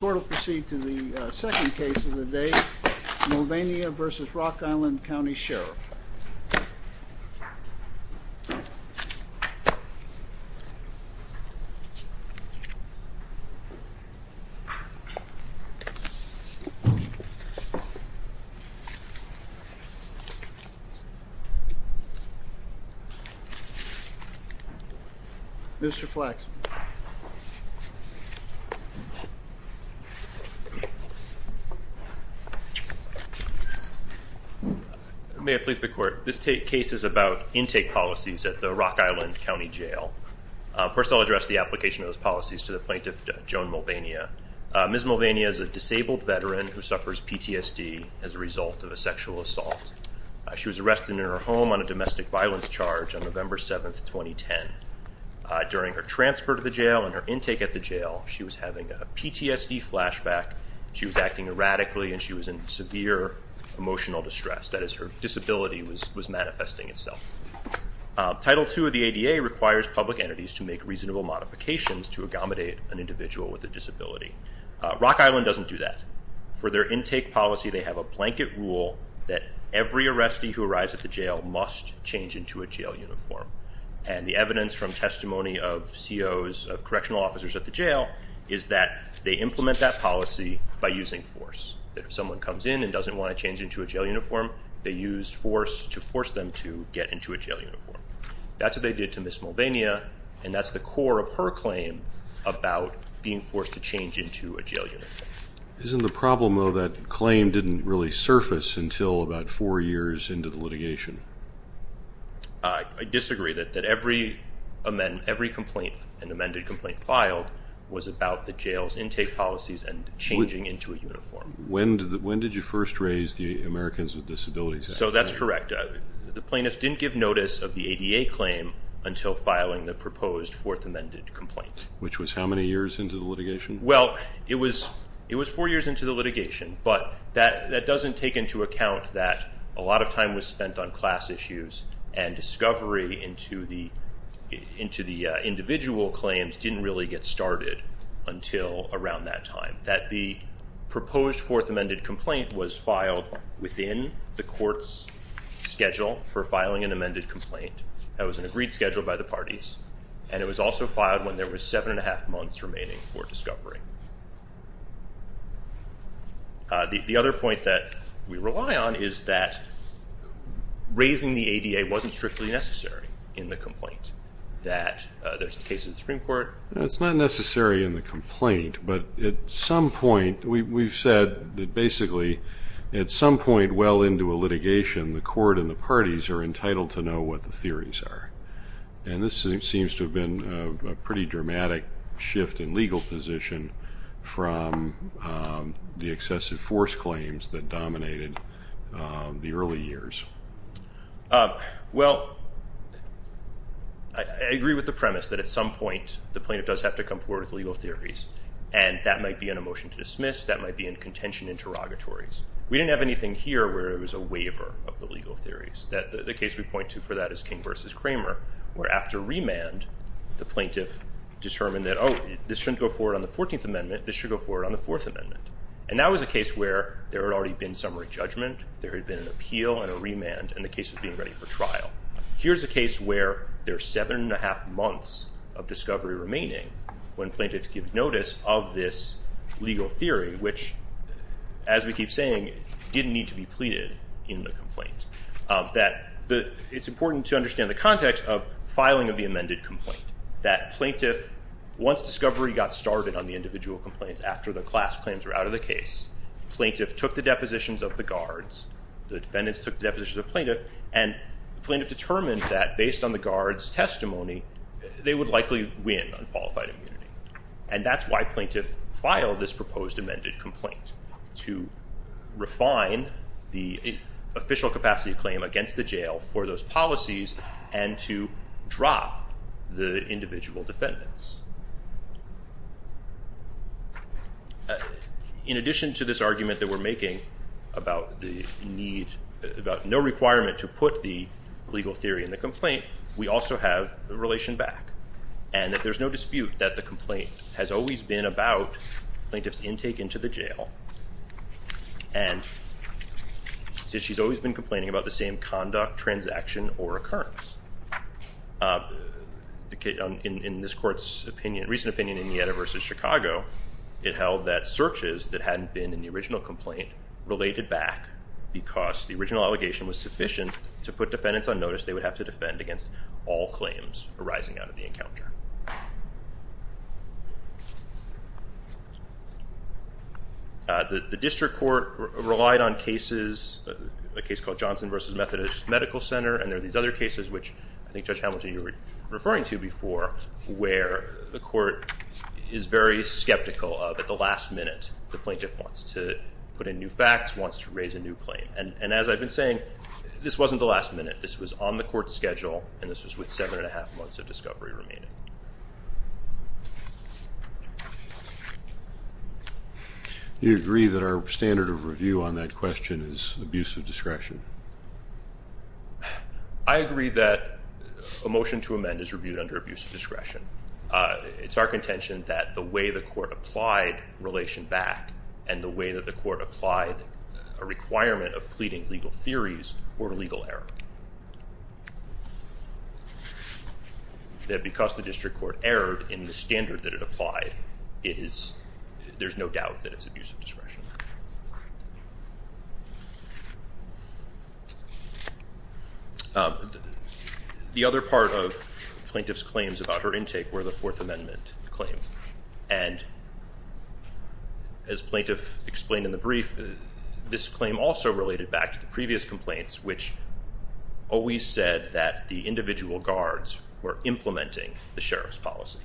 The court will proceed to the second case of the day, Mulvania v. Rock Island County Sheriff. Mr. Flaxman. May it please the court. This case is about intake policies at the Rock Island County Jail. First, I'll address the application of those policies to the plaintiff, Joan Mulvania. Ms. Mulvania is a disabled veteran who suffers PTSD as a result of a sexual assault. She was arrested in her home on a domestic violence charge on November 7, 2010. During her transfer to the jail and her intake at the jail, she was having a PTSD flashback. She was acting erratically and she was in severe emotional distress. That is, her disability was manifesting itself. Title II of the ADA requires public entities to make reasonable modifications to accommodate an individual with a disability. Rock Island doesn't do that. For their intake policy, they have a blanket rule that every arrestee who arrives at the jail must change into a jail uniform. And the evidence from testimony of COs, of correctional officers at the jail, is that they implement that policy by using force. That if someone comes in and doesn't want to change into a jail uniform, they use force to force them to get into a jail uniform. That's what they did to Ms. Mulvania, and that's the core of her claim about being forced to change into a jail uniform. Isn't the problem, though, that claim didn't really surface until about four years into the litigation? I disagree that every complaint, an amended complaint filed, was about the jail's intake policies and changing into a uniform. When did you first raise the Americans with Disabilities Act? So that's correct. The plaintiffs didn't give notice of the ADA claim until filing the proposed fourth amended complaint. Which was how many years into the litigation? Well, it was four years into the litigation, but that doesn't take into account that a lot of time was spent on class issues, and discovery into the individual claims didn't really get started until around that time. That the proposed fourth amended complaint was filed within the court's schedule for filing an amended complaint. That was an agreed schedule by the parties, and it was also filed when there was seven and a half months remaining for discovery. The other point that we rely on is that raising the ADA wasn't strictly necessary in the complaint. There's cases in the Supreme Court. It's not necessary in the complaint, but at some point, we've said that basically at some point well into a litigation, the court and the parties are entitled to know what the theories are. And this seems to have been a pretty dramatic shift in legal position from the excessive force claims that dominated the early years. Well, I agree with the premise that at some point, the plaintiff does have to come forward with legal theories, and that might be in a motion to dismiss. That might be in contention interrogatories. We didn't have anything here where it was a waiver of the legal theories. The case we point to for that is King v. Kramer, where after remand, the plaintiff determined that, oh, this shouldn't go forward on the 14th Amendment. This should go forward on the Fourth Amendment. And that was a case where there had already been summary judgment. There had been an appeal and a remand and a case of being ready for trial. Here's a case where there's seven and a half months of discovery remaining when plaintiffs give notice of this legal theory, which, as we keep saying, didn't need to be pleaded in the complaint. It's important to understand the context of filing of the amended complaint, that plaintiff, once discovery got started on the individual complaints after the class claims were out of the case, plaintiff took the depositions of the guards, the defendants took the depositions of the plaintiff, and the plaintiff determined that based on the guard's testimony, they would likely win on qualified immunity. And that's why plaintiff filed this proposed amended complaint, to refine the official capacity claim against the jail for those policies and to drop the individual defendants. In addition to this argument that we're making about the need, about no requirement to put the legal theory in the complaint, we also have the relation back. And that there's no dispute that the complaint has always been about plaintiff's intake into the jail. And she's always been complaining about the same conduct, transaction, or occurrence. In this court's opinion, recent opinion in Nieta v. Chicago, it held that searches that hadn't been in the original complaint related back because the original allegation was sufficient to put defendants on notice. They would have to defend against all claims arising out of the encounter. The district court relied on cases, a case called Johnson v. Methodist Medical Center, and there are these other cases, which I think Judge Hamilton, you were referring to before, where the court is very skeptical of at the last minute. The plaintiff wants to put in new facts, wants to raise a new claim. And as I've been saying, this wasn't the last minute. This was on the court's schedule, and this was with seven and a half months of discovery remaining. Do you agree that our standard of review on that question is abuse of discretion? I agree that a motion to amend is reviewed under abuse of discretion. It's our contention that the way the court applied relation back and the way that the court applied a requirement of pleading legal theories were legal error, that because the district court erred in the standard that it applied, there's no doubt that it's abuse of discretion. The other part of the plaintiff's claims about her intake were the Fourth Amendment claims. And as the plaintiff explained in the brief, this claim also related back to the previous complaints, which always said that the individual guards were implementing the sheriff's policy.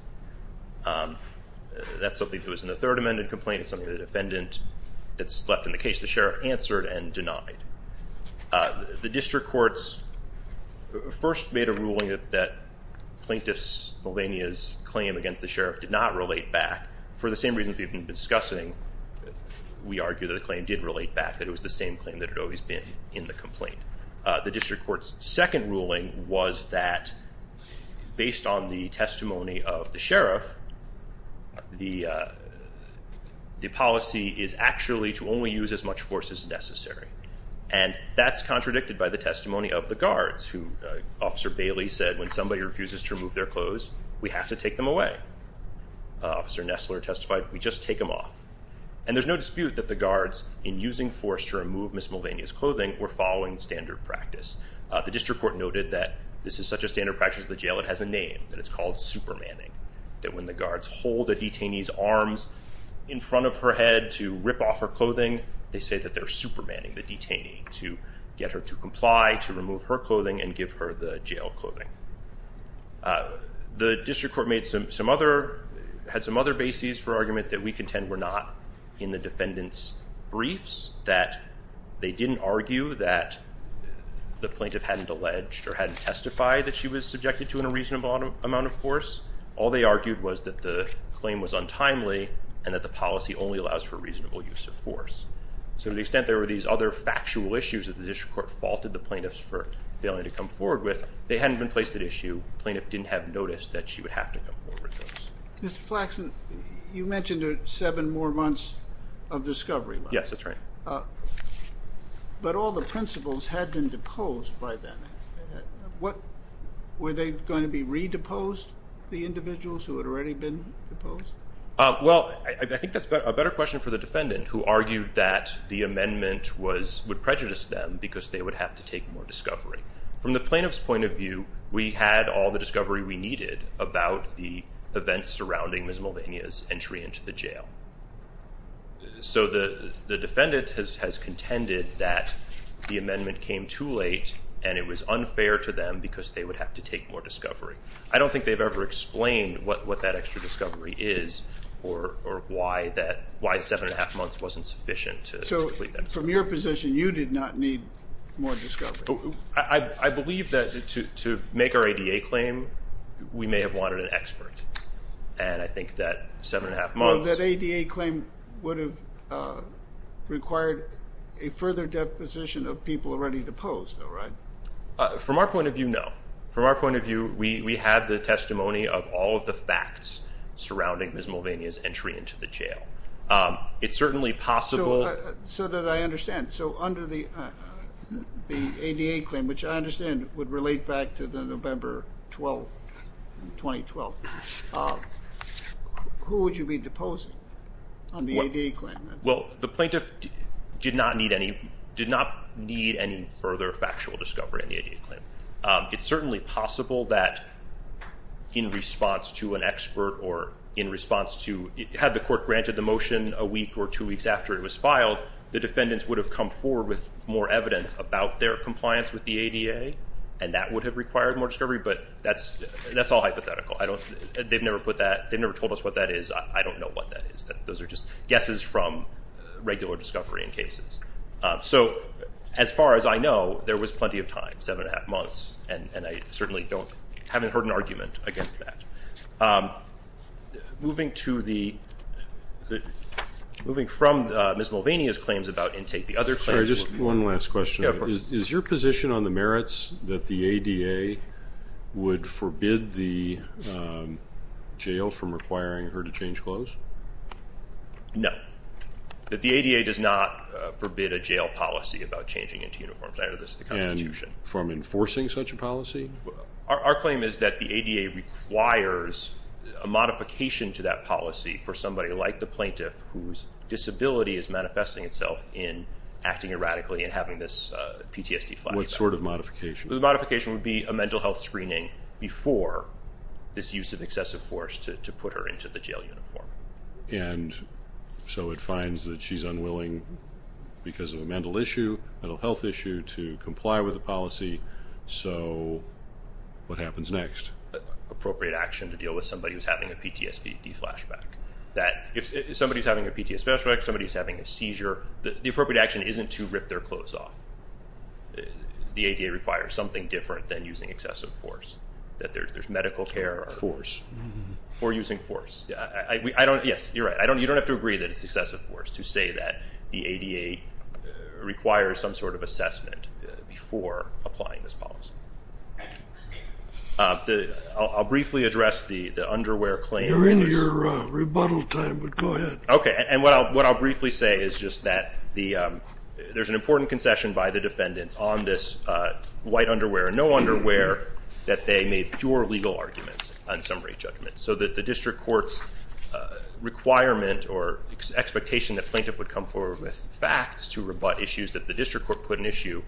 That's something that was in the Third Amendment complaint. It's something that the defendant that's left in the case, the sheriff, answered and denied. The district court's first made a ruling that Plaintiff Melania's claim against the sheriff did not relate back. For the same reasons we've been discussing, we argue that the claim did relate back, that it was the same claim that had always been in the complaint. The district court's second ruling was that, based on the testimony of the sheriff, the policy is actually to only use as much force as necessary. And that's contradicted by the testimony of the guards, who Officer Bailey said, when somebody refuses to remove their clothes, we have to take them away. Officer Nestler testified, we just take them off. And there's no dispute that the guards, in using force to remove Ms. Melania's clothing, were following standard practice. The district court noted that this is such a standard practice in the jail, it has a name, and it's called supermanning, that when the guards hold a detainee's arms in front of her head to rip off her clothing, they say that they're supermanning the detainee to get her to comply, to remove her clothing, and give her the jail clothing. The district court had some other bases for argument that we contend were not in the defendant's briefs, that they didn't argue that the plaintiff hadn't alleged or hadn't testified that she was subjected to in a reasonable amount of force. All they argued was that the claim was untimely and that the policy only allows for reasonable use of force. So to the extent there were these other factual issues that the district court faulted the plaintiffs for failing to come forward with, they hadn't been placed at issue. The plaintiff didn't have notice that she would have to come forward with those. Mr. Flaxman, you mentioned seven more months of discovery. Yes, that's right. But all the principles had been deposed by then. Were they going to be redeposed, the individuals who had already been deposed? Well, I think that's a better question for the defendant, who argued that the amendment would prejudice them because they would have to take more discovery. From the plaintiff's point of view, we had all the discovery we needed about the events surrounding Ms. Mulvaney's entry into the jail. So the defendant has contended that the amendment came too late and it was unfair to them because they would have to take more discovery. I don't think they've ever explained what that extra discovery is or why seven and a half months wasn't sufficient to complete that discovery. So from your position, you did not need more discovery? I believe that to make our ADA claim, we may have wanted an expert. And I think that seven and a half months— Well, that ADA claim would have required a further deposition of people already deposed, right? From our point of view, no. From our point of view, we had the testimony of all of the facts surrounding Ms. Mulvaney's entry into the jail. It's certainly possible— So that I understand. So under the ADA claim, which I understand would relate back to the November 12, 2012, who would you be deposing on the ADA claim? Well, the plaintiff did not need any further factual discovery on the ADA claim. It's certainly possible that in response to an expert or in response to— had the court granted the motion a week or two weeks after it was filed, the defendants would have come forward with more evidence about their compliance with the ADA, and that would have required more discovery, but that's all hypothetical. They've never told us what that is. I don't know what that is. Those are just guesses from regular discovery in cases. So as far as I know, there was plenty of time, seven and a half months, and I certainly haven't heard an argument against that. Moving to the—moving from Ms. Mulvaney's claims about intake, the other claims— Sorry, just one last question. Yeah, of course. Is your position on the merits that the ADA would forbid the jail from requiring her to change clothes? No. The ADA does not forbid a jail policy about changing into uniforms, either. That's the Constitution. And from enforcing such a policy? Our claim is that the ADA requires a modification to that policy for somebody like the plaintiff whose disability is manifesting itself in acting erratically and having this PTSD flashback. What sort of modification? The modification would be a mental health screening before this use of excessive force to put her into the jail uniform. And so it finds that she's unwilling because of a mental issue, a mental health issue, to comply with the policy. So what happens next? Appropriate action to deal with somebody who's having a PTSD flashback. If somebody's having a PTSD flashback, somebody's having a seizure, the appropriate action isn't to rip their clothes off. The ADA requires something different than using excessive force, that there's medical care. Force. Or using force. Yes, you're right. You don't have to agree that it's excessive force to say that the ADA requires some sort of assessment before applying this policy. I'll briefly address the underwear claim. You're in your rebuttal time, but go ahead. OK. And what I'll briefly say is just that there's an important concession by the defendants on this white underwear. No underwear that they made pure legal arguments on summary judgment. So that the district court's requirement or expectation that plaintiff would come forward with facts to rebut issues that the district court put in issue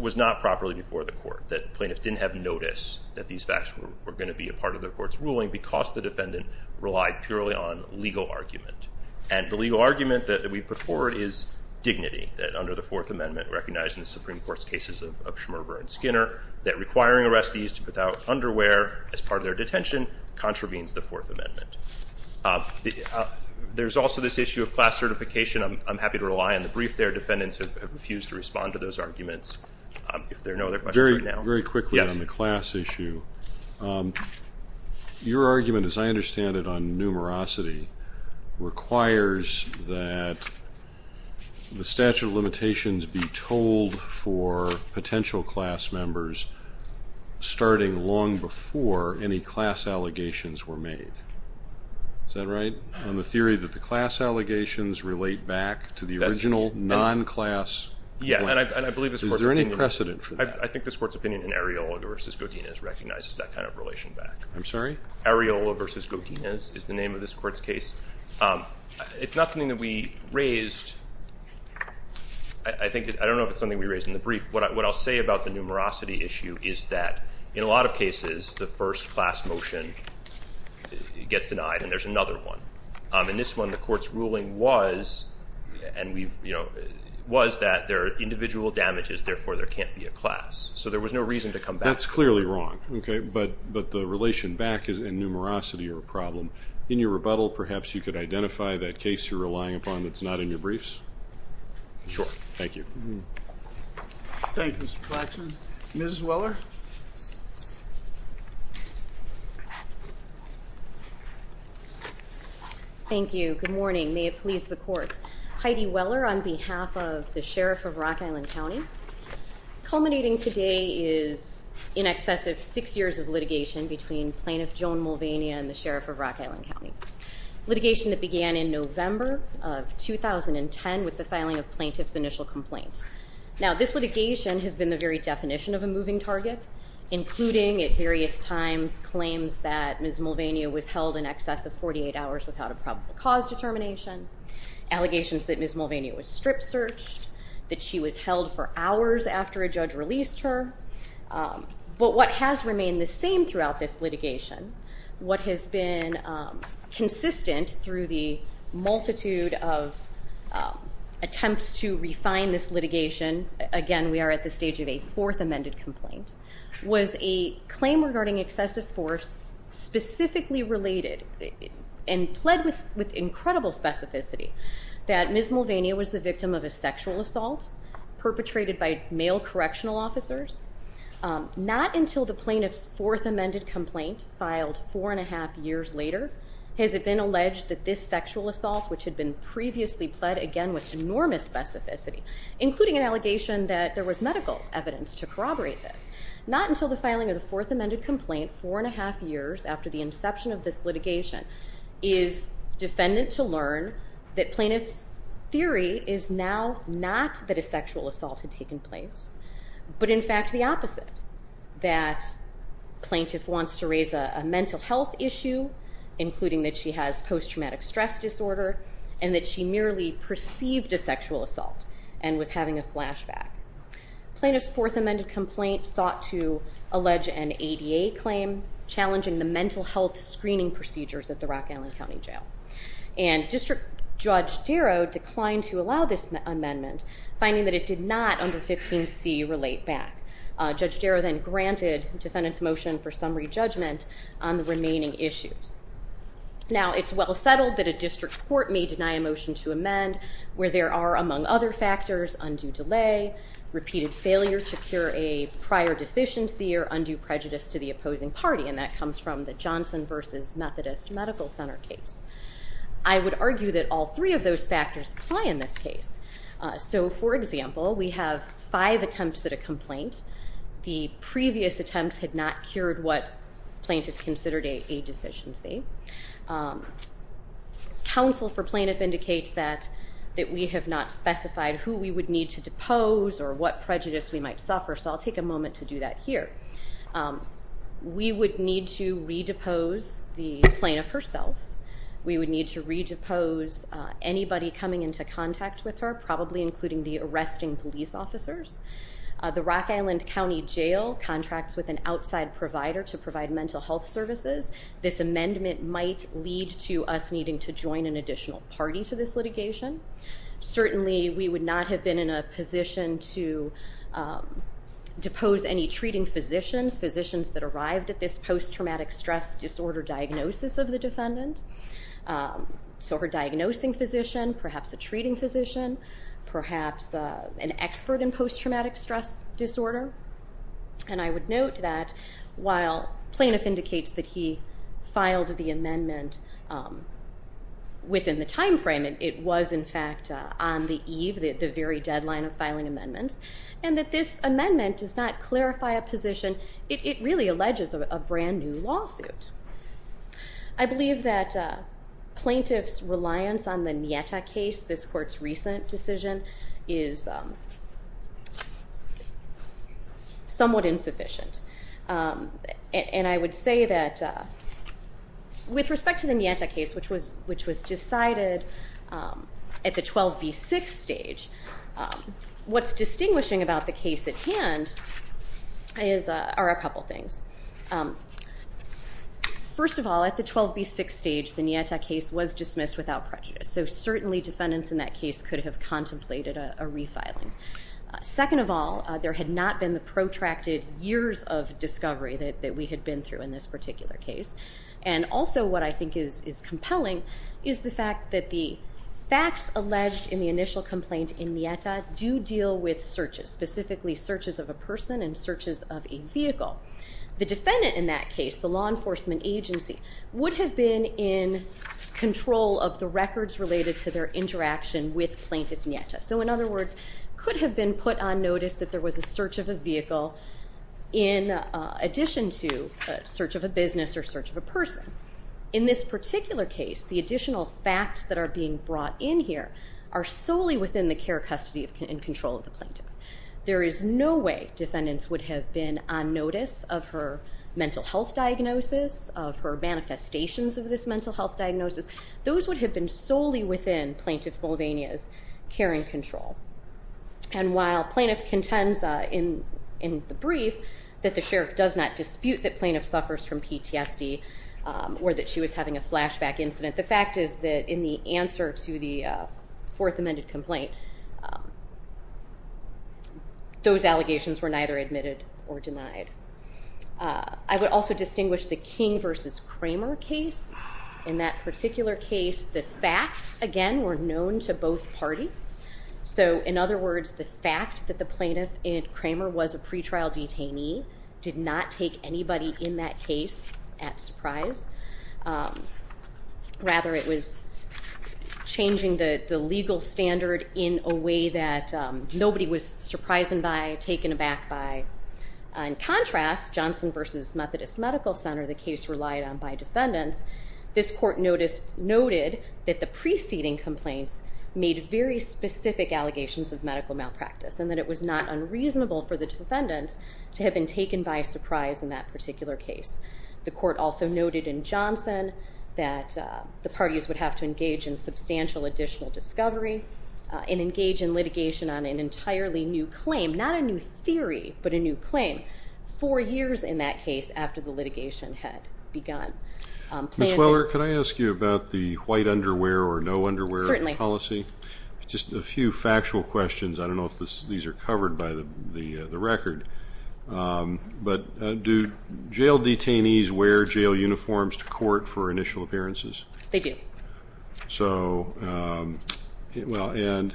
was not properly before the court. That plaintiffs didn't have notice that these facts were going to be a part of the court's ruling because the defendant relied purely on legal argument. And the legal argument that we put forward is dignity, that under the Fourth Amendment, recognized in the Supreme Court's cases of Schmerber and Skinner, that requiring arrestees to put out underwear as part of their detention contravenes the Fourth Amendment. There's also this issue of class certification. I'm happy to rely on the brief there. Defendants have refused to respond to those arguments. If there are no other questions right now. Very quickly on the class issue. Your argument, as I understand it, on numerosity requires that the statute of limitations be told for potential class members starting long before any class allegations were made. Is that right? On the theory that the class allegations relate back to the original non-class point. Is there any precedent for that? I think this court's opinion in Areola v. Godinez recognizes that kind of relation back. I'm sorry? Areola v. Godinez is the name of this court's case. It's not something that we raised. I don't know if it's something we raised in the brief. What I'll say about the numerosity issue is that in a lot of cases, the first class motion gets denied and there's another one. In this one, the court's ruling was that there are individual damages, therefore there can't be a class. So there was no reason to come back. That's clearly wrong. But the relation back and numerosity are a problem. In your rebuttal, perhaps you could identify that case you're relying upon that's not in your briefs? Sure. Thank you. Thank you, Mr. Claxton. Ms. Weller? Thank you. Good morning. May it please the court. Heidi Weller on behalf of the Sheriff of Rock Island County. Culminating today is in excess of six years of litigation between plaintiff Joan Mulvaney and the Sheriff of Rock Island County. Litigation that began in November of 2010 with the filing of plaintiff's initial complaint. Now, this litigation has been the very definition of a moving target, including at various times claims that Ms. Mulvaney was held in excess of 48 hours without a probable cause determination, allegations that Ms. Mulvaney was strip searched, that she was held for hours after a judge released her. But what has remained the same throughout this litigation, what has been consistent through the multitude of attempts to refine this litigation, again we are at the stage of a fourth amended complaint, was a claim regarding excessive force specifically related and pled with incredible specificity that Ms. Mulvaney was the victim of a sexual assault perpetrated by male correctional officers, not until the plaintiff's fourth amended complaint filed four and a half years later has it been alleged that this sexual assault which had been previously pled again with enormous specificity, including an allegation that there was medical evidence to corroborate this, not until the filing of the fourth amended complaint four and a half years after the inception of this litigation is defendant to learn that plaintiff's theory is now not that a sexual assault had taken place, but in fact the opposite, that plaintiff wants to raise a mental health issue including that she has post-traumatic stress disorder and that she merely perceived a sexual assault and was having a flashback. Plaintiff's fourth amended complaint sought to allege an ADA claim challenging the mental health screening procedures at the Rock Island County Jail and District Judge Darrow declined to allow this amendment, finding that it did not under 15c relate back. Judge Darrow then granted defendant's motion for summary judgment on the remaining issues. Now it's well settled that a district court may deny a motion to amend where there are among other factors undue delay, repeated failure to cure a prior deficiency or undue prejudice to the opposing party and that comes from the Johnson versus Methodist Medical Center case. I would argue that all three of those factors apply in this case. So for example, we have five attempts at a complaint. The previous attempts had not cured what plaintiff considered a deficiency. Counsel for plaintiff indicates that we have not specified who we would need to depose or what prejudice we might suffer, so I'll take a moment to do that here. We would need to redepose the plaintiff herself. We would need to redepose anybody coming into contact with her, probably including the arresting police officers. The Rock Island County Jail contracts with an outside provider to provide mental health services. This amendment might lead to us needing to join an additional party to this litigation. Certainly we would not have been in a position to depose any treating physicians, physicians that arrived at this post-traumatic stress disorder diagnosis of the defendant. So her diagnosing physician, perhaps a treating physician, perhaps an expert in post-traumatic stress disorder. And I would note that while plaintiff indicates that he filed the amendment within the time frame, it was, in fact, on the eve, the very deadline of filing amendments, and that this amendment does not clarify a position. It really alleges a brand-new lawsuit. I believe that plaintiff's reliance on the Nieta case, this court's recent decision, is somewhat insufficient. And I would say that with respect to the Nieta case, which was decided at the 12B6 stage, what's distinguishing about the case at hand are a couple things. First of all, at the 12B6 stage, the Nieta case was dismissed without prejudice, so certainly defendants in that case could have contemplated a refiling. Second of all, there had not been the protracted years of discovery that we had been through in this particular case. And also what I think is compelling is the fact that the facts alleged in the initial complaint in Nieta do deal with searches, specifically searches of a person and searches of a vehicle. The defendant in that case, the law enforcement agency, would have been in control of the records related to their interaction with plaintiff Nieta. So in other words, could have been put on notice that there was a search of a vehicle in addition to a search of a business or search of a person. In this particular case, the additional facts that are being brought in here are solely within the care, custody, and control of the plaintiff. There is no way defendants would have been on notice of her mental health diagnosis, of her manifestations of this mental health diagnosis. Those would have been solely within plaintiff Moldania's care and control. And while plaintiff contends in the brief that the sheriff does not dispute that plaintiff suffers from PTSD or that she was having a flashback incident, the fact is that in the answer to the Fourth Amended Complaint, those allegations were neither admitted or denied. I would also distinguish the King v. Kramer case. In that particular case, the facts, again, were known to both parties. So in other words, the fact that the plaintiff, Kramer, was a pretrial detainee did not take anybody in that case at surprise. Rather, it was changing the legal standard in a way that nobody was surprised by, taken aback by. In contrast, Johnson v. Methodist Medical Center, the case relied on by defendants, this court noted that the preceding complaints made very specific allegations of medical malpractice and that it was not unreasonable for the defendants to have been taken by surprise in that particular case. The court also noted in Johnson that the parties would have to engage in substantial additional discovery and engage in litigation on an entirely new claim, not a new theory, but a new claim, four years in that case after the litigation had begun. Ms. Weller, can I ask you about the white underwear or no underwear policy? Certainly. Just a few factual questions. I don't know if these are covered by the record, but do jail detainees wear jail uniforms to court for initial appearances? They do. And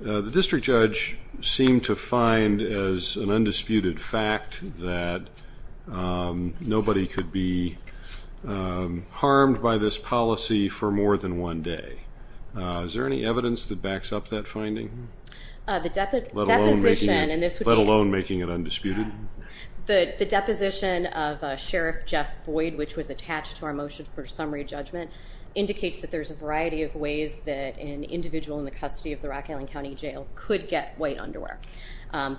the district judge seemed to find as an undisputed fact that nobody could be harmed by this policy for more than one day. Is there any evidence that backs up that finding? Let alone making it undisputed? The deposition of Sheriff Jeff Boyd, which was attached to our motion for summary judgment, indicates that there's a variety of ways that an individual in the custody of the Rock Island County Jail could get white underwear.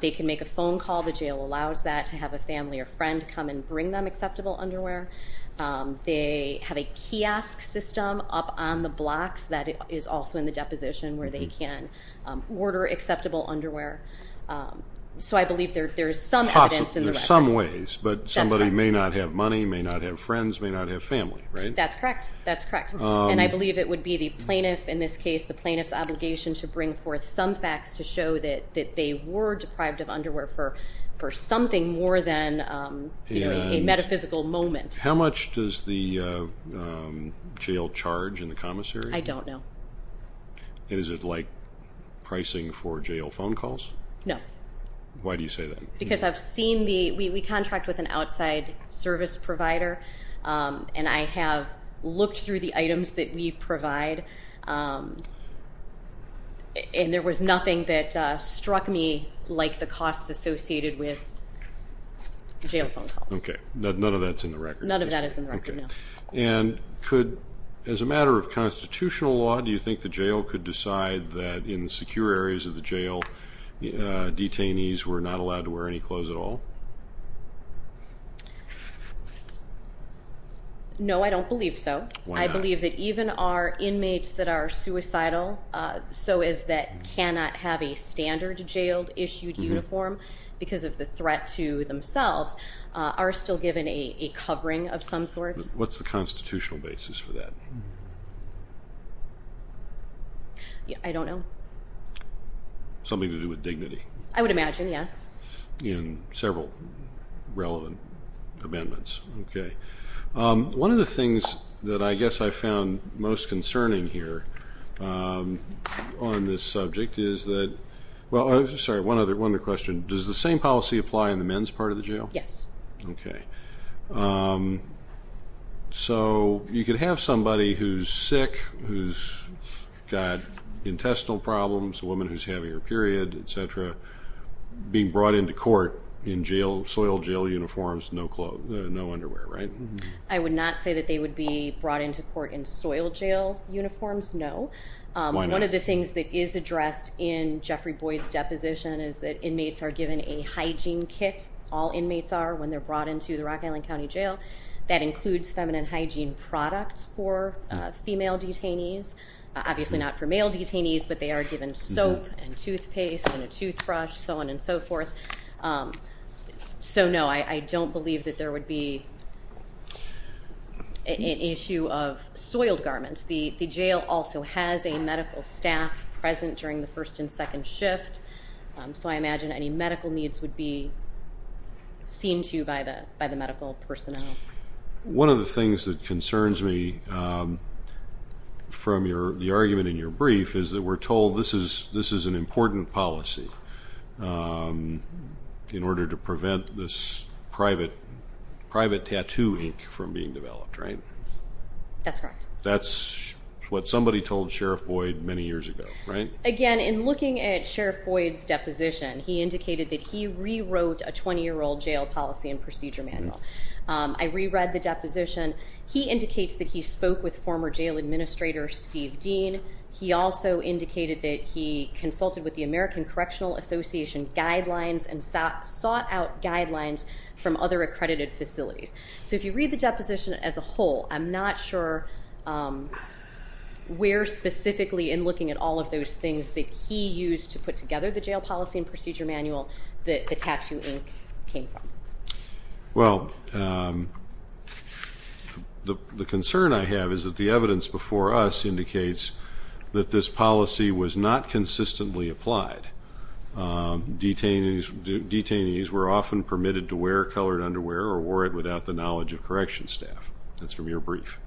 They can make a phone call. The jail allows that to have a family or friend come and bring them acceptable underwear. They have a kiosk system up on the blocks that is also in the deposition where they can order acceptable underwear. So I believe there's some evidence in the record. In some ways, but somebody may not have money, may not have friends, may not have family, right? That's correct. That's correct. And I believe it would be the plaintiff, in this case, the plaintiff's obligation to bring forth some facts to show that they were deprived of underwear for something more than a metaphysical moment. How much does the jail charge in the commissary? I don't know. Is it like pricing for jail phone calls? No. Why do you say that? Because I've seen the we contract with an outside service provider, and I have looked through the items that we provide, and there was nothing that struck me like the costs associated with jail phone calls. Okay. None of that's in the record. None of that is in the record, no. Okay. And could, as a matter of constitutional law, do you think the jail could decide that in secure areas of the jail, detainees were not allowed to wear any clothes at all? No, I don't believe so. Why not? I believe that even our inmates that are suicidal, so is that cannot have a standard jail-issued uniform because of the threat to themselves, are still given a covering of some sort. What's the constitutional basis for that? I don't know. Something to do with dignity. I would imagine, yes. In several relevant amendments. Okay. One of the things that I guess I found most concerning here on this subject is that one other question, does the same policy apply in the men's part of the jail? Yes. Okay. So you could have somebody who's sick, who's got intestinal problems, a woman who's having her period, et cetera, being brought into court in soil jail uniforms, no underwear, right? I would not say that they would be brought into court in soil jail uniforms, no. Why not? One of the things that is addressed in Jeffrey Boyd's deposition is that inmates are given a hygiene kit, all inmates are, when they're brought into the Rock Island County Jail, that includes feminine hygiene products for female detainees. Obviously not for male detainees, but they are given soap and toothpaste and a toothbrush, so on and so forth. So, no, I don't believe that there would be an issue of soiled garments. The jail also has a medical staff present during the first and second shift, so I imagine any medical needs would be seen to by the medical personnel. One of the things that concerns me from the argument in your brief is that we're told this is an important policy in order to prevent this private tattoo ink from being developed, right? That's correct. That's what somebody told Sheriff Boyd many years ago, right? Again, in looking at Sheriff Boyd's deposition, he indicated that he rewrote a 20-year-old jail policy and procedure manual. I reread the deposition. He indicates that he spoke with former jail administrator Steve Dean. He also indicated that he consulted with the American Correctional Association guidelines and sought out guidelines from other accredited facilities. So if you read the deposition as a whole, I'm not sure where specifically in looking at all of those things that he used to put together the jail policy and procedure manual that the tattoo ink came from. Well, the concern I have is that the evidence before us indicates that this policy was not consistently applied. Detainees were often permitted to wear colored underwear or wore it without the knowledge of correction staff. That's from your brief.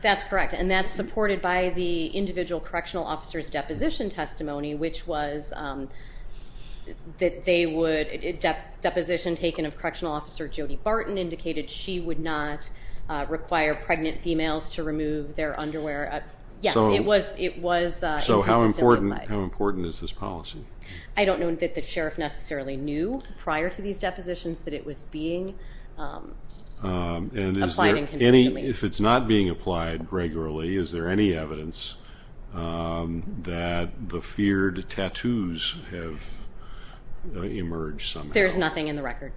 That's correct. And that's supported by the individual correctional officer's deposition testimony, which was that they would, deposition taken of correctional officer Jody Barton, indicated she would not require pregnant females to remove their underwear. Yes, it was inconsistent. So how important is this policy? I don't know that the sheriff necessarily knew prior to these depositions that it was being applied inconsistently. And if it's not being applied regularly, is there any evidence that the feared tattoos have emerged somehow? There's nothing in the record.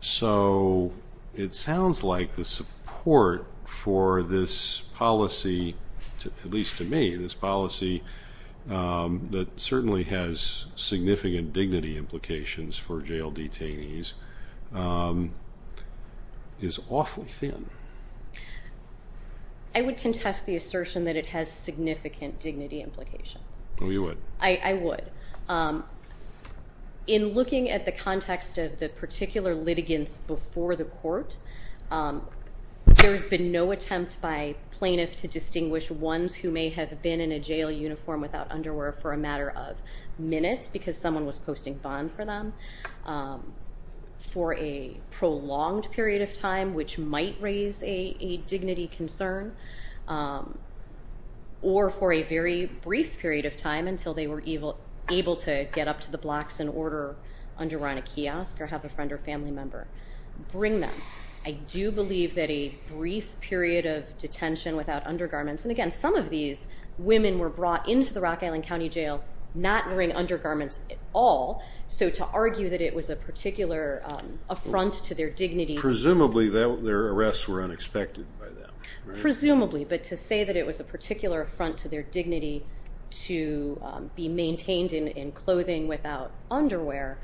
So it sounds like the support for this policy, at least to me, this policy that certainly has significant dignity implications for jail detainees is awfully thin. I would contest the assertion that it has significant dignity implications. Oh, you would? I would. In looking at the context of the particular litigants before the court, there has been no attempt by plaintiff to distinguish ones who may have been in a jail uniform without underwear for a matter of minutes because someone was posting bond for them, for a prolonged period of time, which might raise a dignity concern, or for a very brief period of time until they were able to get up to the blocks and order underwear in a kiosk or have a friend or family member bring them. I do believe that a brief period of detention without undergarments, and again some of these women were brought into the Rock Island County Jail not wearing undergarments at all, so to argue that it was a particular affront to their dignity. Presumably their arrests were unexpected by them, right? Presumably. But to say that it was a particular affront to their dignity to be maintained in clothing without underwear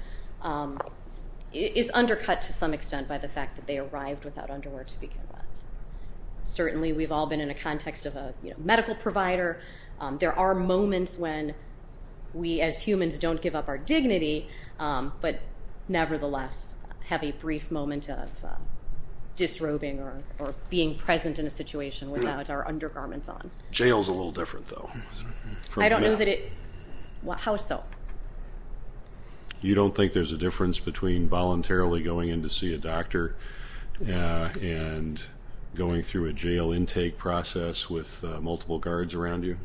is undercut to some extent by the fact that they arrived without underwear to begin with. Certainly we've all been in a context of a medical provider. There are moments when we as humans don't give up our dignity, but nevertheless have a brief moment of disrobing or being present in a situation without our undergarments on. Jail is a little different though. I don't know that it is. How so? You don't think there's a difference between voluntarily going in to see a doctor and going through a jail intake process with multiple guards around you?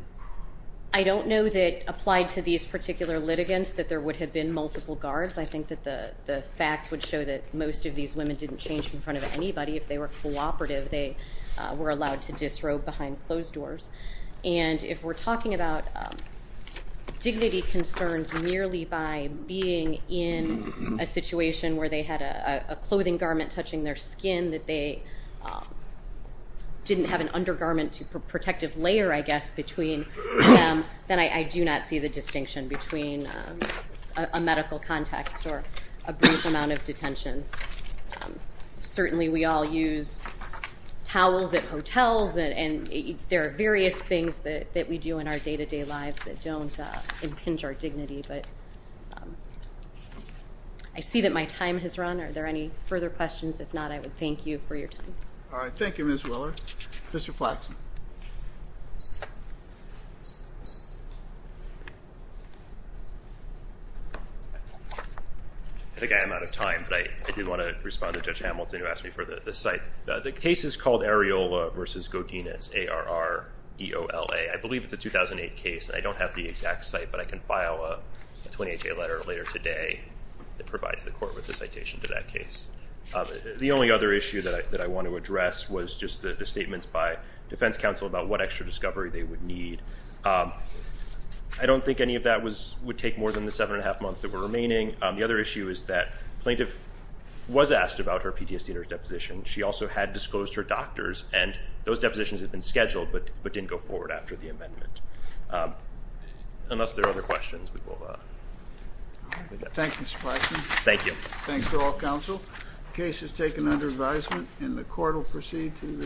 I don't know that applied to these particular litigants that there would have been multiple guards. I think that the facts would show that most of these women didn't change in front of anybody. If they were cooperative, they were allowed to disrobe behind closed doors. And if we're talking about dignity concerns merely by being in a situation where they had a clothing garment touching their skin, that they didn't have an undergarment protective layer, I guess, between them, then I do not see the distinction between a medical context or a brief amount of detention. Certainly we all use towels at hotels, and there are various things that we do in our day-to-day lives that don't impinge our dignity. But I see that my time has run. Are there any further questions? If not, I would thank you for your time. All right. Thank you, Ms. Willer. Mr. Flaxman. I think I am out of time, but I did want to respond to Judge Hamilton who asked me for the site. The case is called Areola v. Godinez, A-R-R-E-O-L-A. I believe it's a 2008 case, and I don't have the exact site, but I can file a 28-day letter later today that provides the court with a citation to that case. The only other issue that I want to address was just the statements by defense counsel about what extra discovery they would need. I don't think any of that would take more than the seven and a half months that were remaining. The other issue is that the plaintiff was asked about her PTSD and her deposition. She also had disclosed her doctors, and those depositions had been scheduled but didn't go forward after the amendment. Unless there are other questions, we will move on. Thank you, Mr. Flaxman. Thank you. Thanks to all counsel. The case is taken under advisement, and the court will proceed to the hearing.